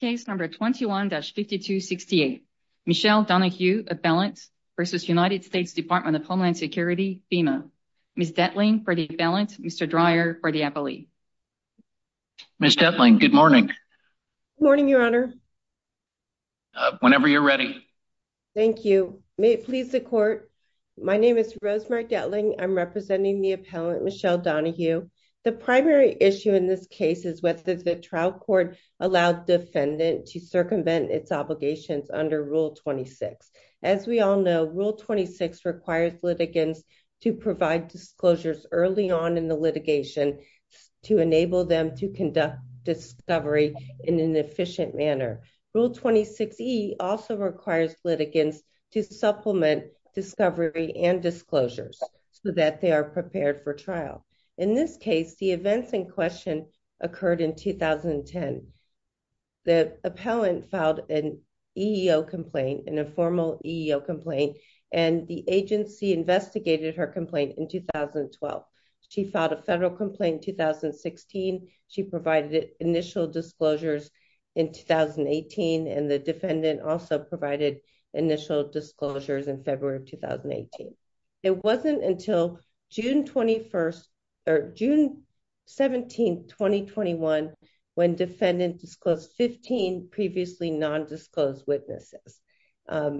Case number 21-5268. Michelle Donahue, appellant versus United States Department of Homeland Security, FEMA. Ms. Detling for the appellant, Mr. Dreyer for the appellee. Ms. Detling, good morning. Good morning, your honor. Whenever you're ready. Thank you. May it please the court, my name is Rosemary Detling. I'm representing the appellant Michelle Donahue. The primary issue in this case is whether the trial court allowed defendant to circumvent its obligations under Rule 26. As we all know, Rule 26 requires litigants to provide disclosures early on in the litigation to enable them to conduct discovery in an efficient manner. Rule 26E also requires litigants to supplement discovery and disclosures so that they are prepared for trial. In this case, the events in question occurred in 2010. The appellant filed an EEO complaint, an informal EEO complaint, and the agency investigated her complaint in 2012. She filed a federal complaint in 2016. She provided initial disclosures in 2018, and the defendant also provided initial disclosures in February of 2018. It wasn't until June 21st, or June 17th, 2021, when defendant disclosed 15 previously non-disclosed witnesses.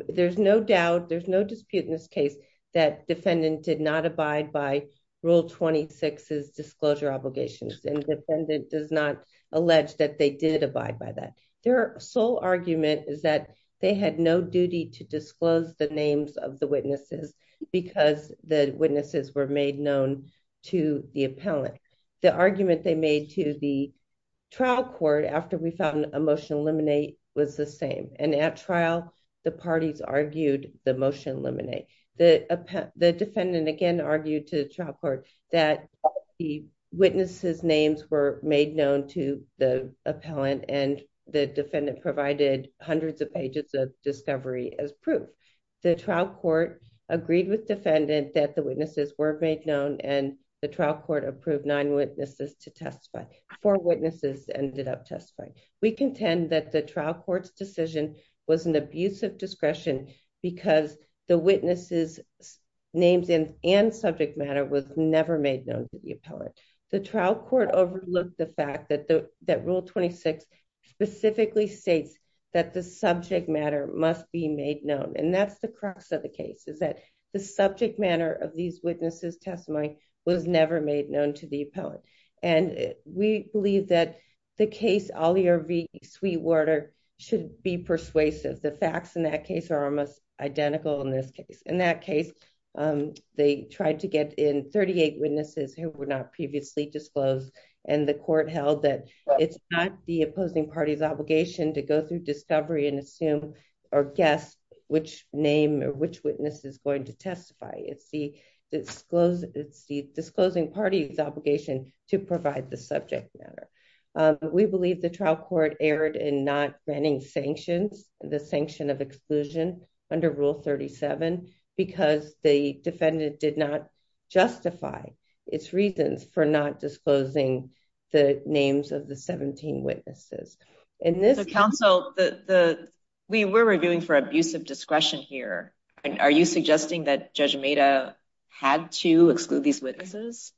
There's no doubt, there's no dispute in this case that defendant did not abide by Rule 26's disclosure obligations, and defendant does not disclose the names of the witnesses because the witnesses were made known to the appellant. The argument they made to the trial court after we found a motion eliminate was the same, and at trial, the parties argued the motion eliminate. The defendant again argued to the trial court that the witnesses' names were made known to the appellant, and the defendant provided hundreds of discovery as proof. The trial court agreed with defendant that the witnesses were made known, and the trial court approved nine witnesses to testify. Four witnesses ended up testifying. We contend that the trial court's decision was an abuse of discretion because the witnesses' names and subject matter was never made known to the appellant. The trial court overlooked the fact that Rule 26 specifically states that the subject matter must be made known, and that's the crux of the case, is that the subject matter of these witnesses' testimony was never made known to the appellant, and we believe that the case Alia V. Sweetwater should be persuasive. The facts in that case are almost identical in this case. In that case, they tried to get in 38 witnesses who were previously disclosed, and the court held that it's not the opposing party's obligation to go through discovery and assume or guess which name or which witness is going to testify. It's the disclosing party's obligation to provide the subject matter. We believe the trial court erred in not granting sanctions, the sanction of exclusion under Rule 37, because the defendant did justify its reasons for not disclosing the names of the 17 witnesses. We were reviewing for abusive discretion here. Are you suggesting that Judge Meda had to exclude these witnesses?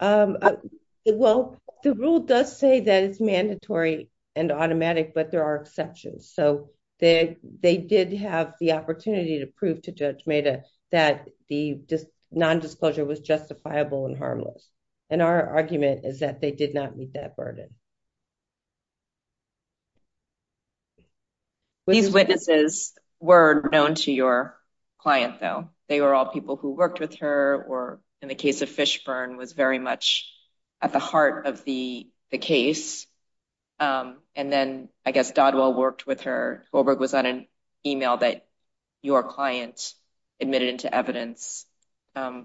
Well, the rule does say that it's mandatory and automatic, but there are exceptions, so they did have the opportunity to prove to Judge Meda that the non-disclosure was justifiable and harmless, and our argument is that they did not meet that burden. These witnesses were known to your client, though. They were all people who worked with her, or in the case of Fishburn, was very much at the heart of the case, and then, I guess, Goldberg was on an email that your client admitted into evidence. Are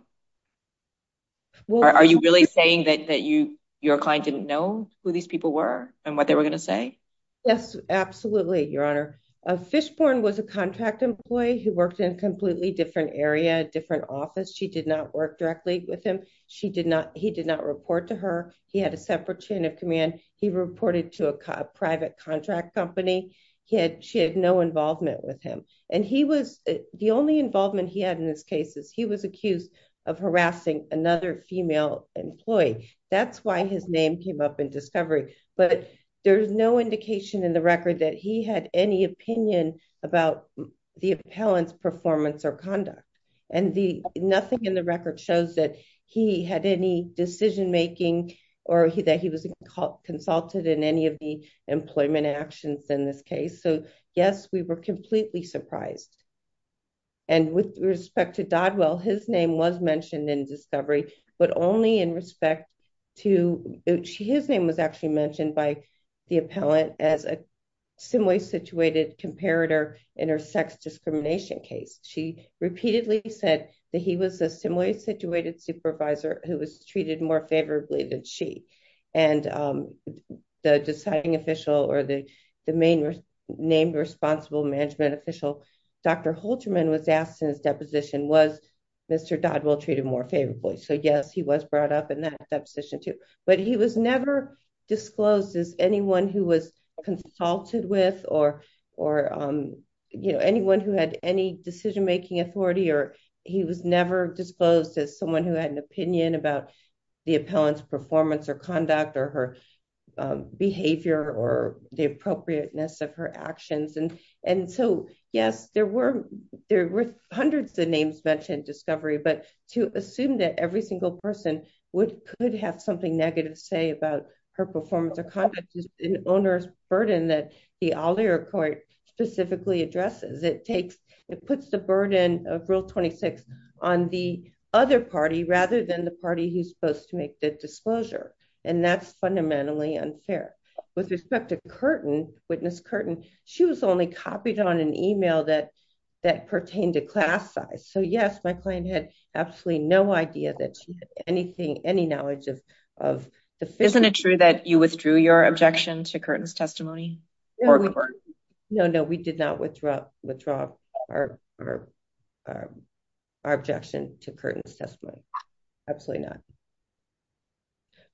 you really saying that your client didn't know who these people were and what they were going to say? Yes, absolutely, Your Honor. Fishburn was a contract employee who worked in a completely different area, different office. She did not work directly with him. He did not report to her. He had a separate chain of command. He reported to a private contract company. She had no involvement with him, and the only involvement he had in this case is he was accused of harassing another female employee. That's why his name came up in discovery, but there's no indication in the record that he had any opinion about the appellant's performance or conduct, and nothing in the record shows that he had any decision-making or that he was consulted in any of the employment actions in this case. So, yes, we were completely surprised, and with respect to Dodwell, his name was mentioned in discovery, but only in respect to... His name was actually mentioned by the appellant as a similarly situated comparator in her sex discrimination case. She repeatedly said that he was a similarly situated supervisor who was treated more favorably than she, and the deciding official or the named responsible management official, Dr. Holterman, was asked in his deposition, was Mr. Dodwell treated more favorably? So, yes, he was brought up in that deposition too, but he was never disclosed as anyone who was consulted with or anyone who had any decision-making authority, or he was never disclosed as someone who had an opinion about the appellant's performance or conduct or her behavior or the appropriateness of her actions. And so, yes, there were hundreds of names mentioned in discovery, but to assume that every single person could have something negative to say about her performance or conduct is an onerous burden that the Alder Court specifically addresses. It puts the burden of Rule 26 on the other party rather than the party who's supposed to make the disclosure, and that's fundamentally unfair. With respect to Curtin, Witness Curtin, she was only copied on an email that pertained to class size. So, yes, my client had absolutely no idea that she had any knowledge of the... Isn't it true that you withdrew your objection to Curtin's testimony? No, no, we did not withdraw our objection to Curtin's testimony. Absolutely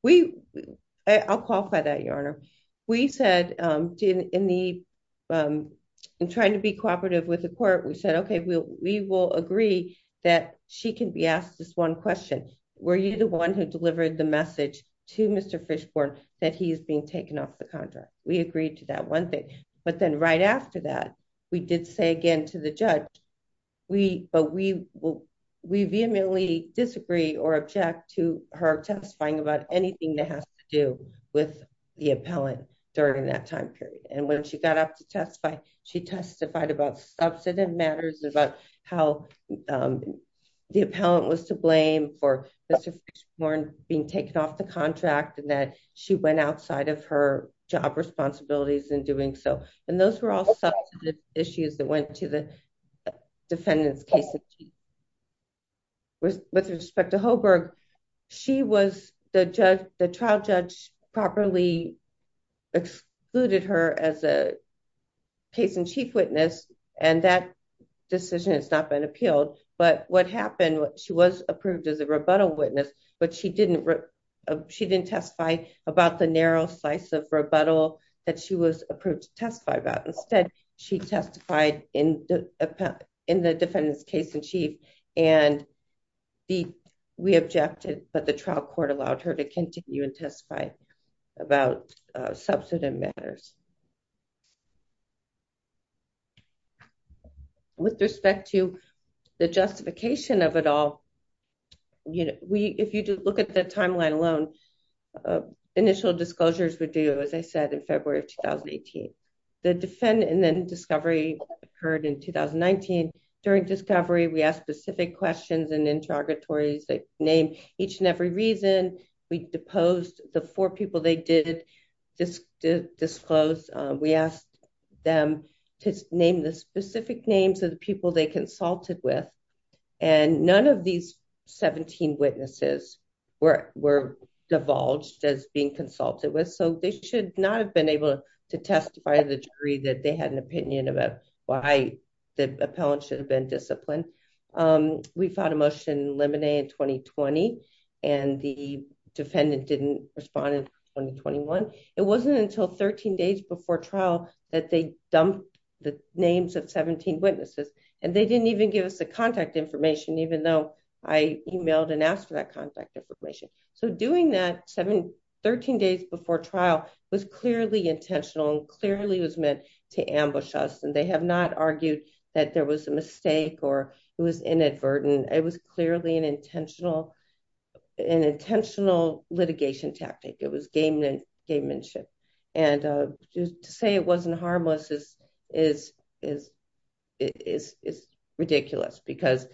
not. I'll qualify that, Your Honor. We said in trying to be cooperative with the court, we said, okay, we will agree that she can be asked this one question. Were you the one who agreed to that one thing? But then right after that, we did say again to the judge, but we vehemently disagree or object to her testifying about anything that has to do with the appellant during that time period. And when she got up to testify, she testified about substantive matters about how the appellant was to blame for Mr. Fishbourne being taken off the job responsibilities in doing so. And those were all substantive issues that went to the defendant's case. With respect to Holberg, the trial judge properly excluded her as a case in chief witness, and that decision has not been appealed. But what happened, she was approved as a rebuttal witness, but she didn't testify about the narrow slice of that she was approved to testify about. Instead, she testified in the defendant's case in chief, and we objected, but the trial court allowed her to continue and testify about substantive matters. With respect to the justification of it all, if you look at the timeline alone, initial disclosures would do, as I said, in February of 2018. The defendant and then discovery occurred in 2019. During discovery, we asked specific questions and interrogatories, they named each and every reason. We deposed the four people they did disclose. We asked them to name the specific names of the people they consulted with. And none of these 17 witnesses were divulged as being consulted with. So they should not have been able to testify to the jury that they had an opinion about why the appellant should have been disciplined. We found a motion limine in 2020. And the defendant didn't respond in 2021. It wasn't until 13 days before trial that they dumped the names of 17 witnesses. And they didn't even give us the contact information, even though I emailed and asked for that contact information. So doing that 713 days before trial was clearly intentional and clearly was meant to ambush us. And they have not argued that there was a mistake or it was inadvertent. It was clearly an intentional, an intentional litigation tactic. It was game and gamemanship. And to say it wasn't harmless is, is, is, is, is ridiculous because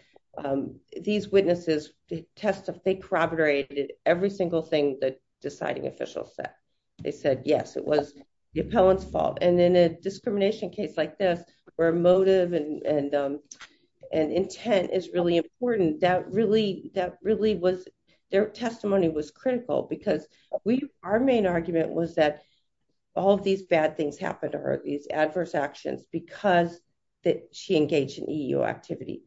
these witnesses test of they corroborated every single thing that deciding official said. They said, yes, it was the appellant's fault. And in a discrimination case like this, where motive and, and, and intent is really important. That really, that really was their we, our main argument was that all of these bad things happen to her, these adverse actions, because that she engaged in EU activity.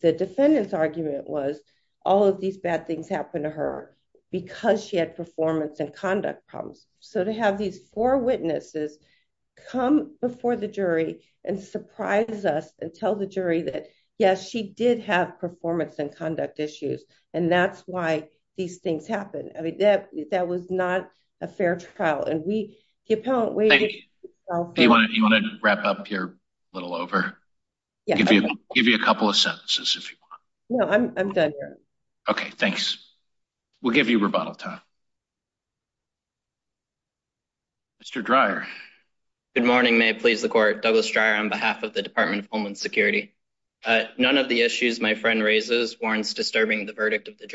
The defendant's argument was all of these bad things happen to her because she had performance and conduct problems. So to have these four witnesses come before the jury and surprise us and tell the jury that, yes, she did have that was not a fair trial. And we get, you want to wrap up here a little over, give you a couple of sentences if you want. No, I'm done. Okay. Thanks. We'll give you rebuttal time. Mr. Dreier. Good morning, may it please the court Douglas Dreier on behalf of the Department of Homeland Security. None of the issues my friend raises warrants disturbing the verdict of the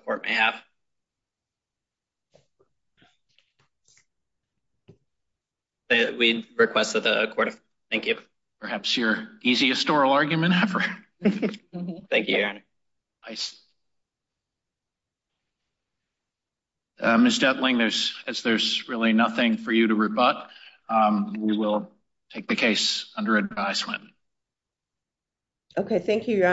court may have. We request that the court, thank you. Perhaps your easiest oral argument ever. Thank you. Ms. Dettling, there's, there's really nothing for you to rebut. We will take the case under advisement. Okay. Thank you, your honor.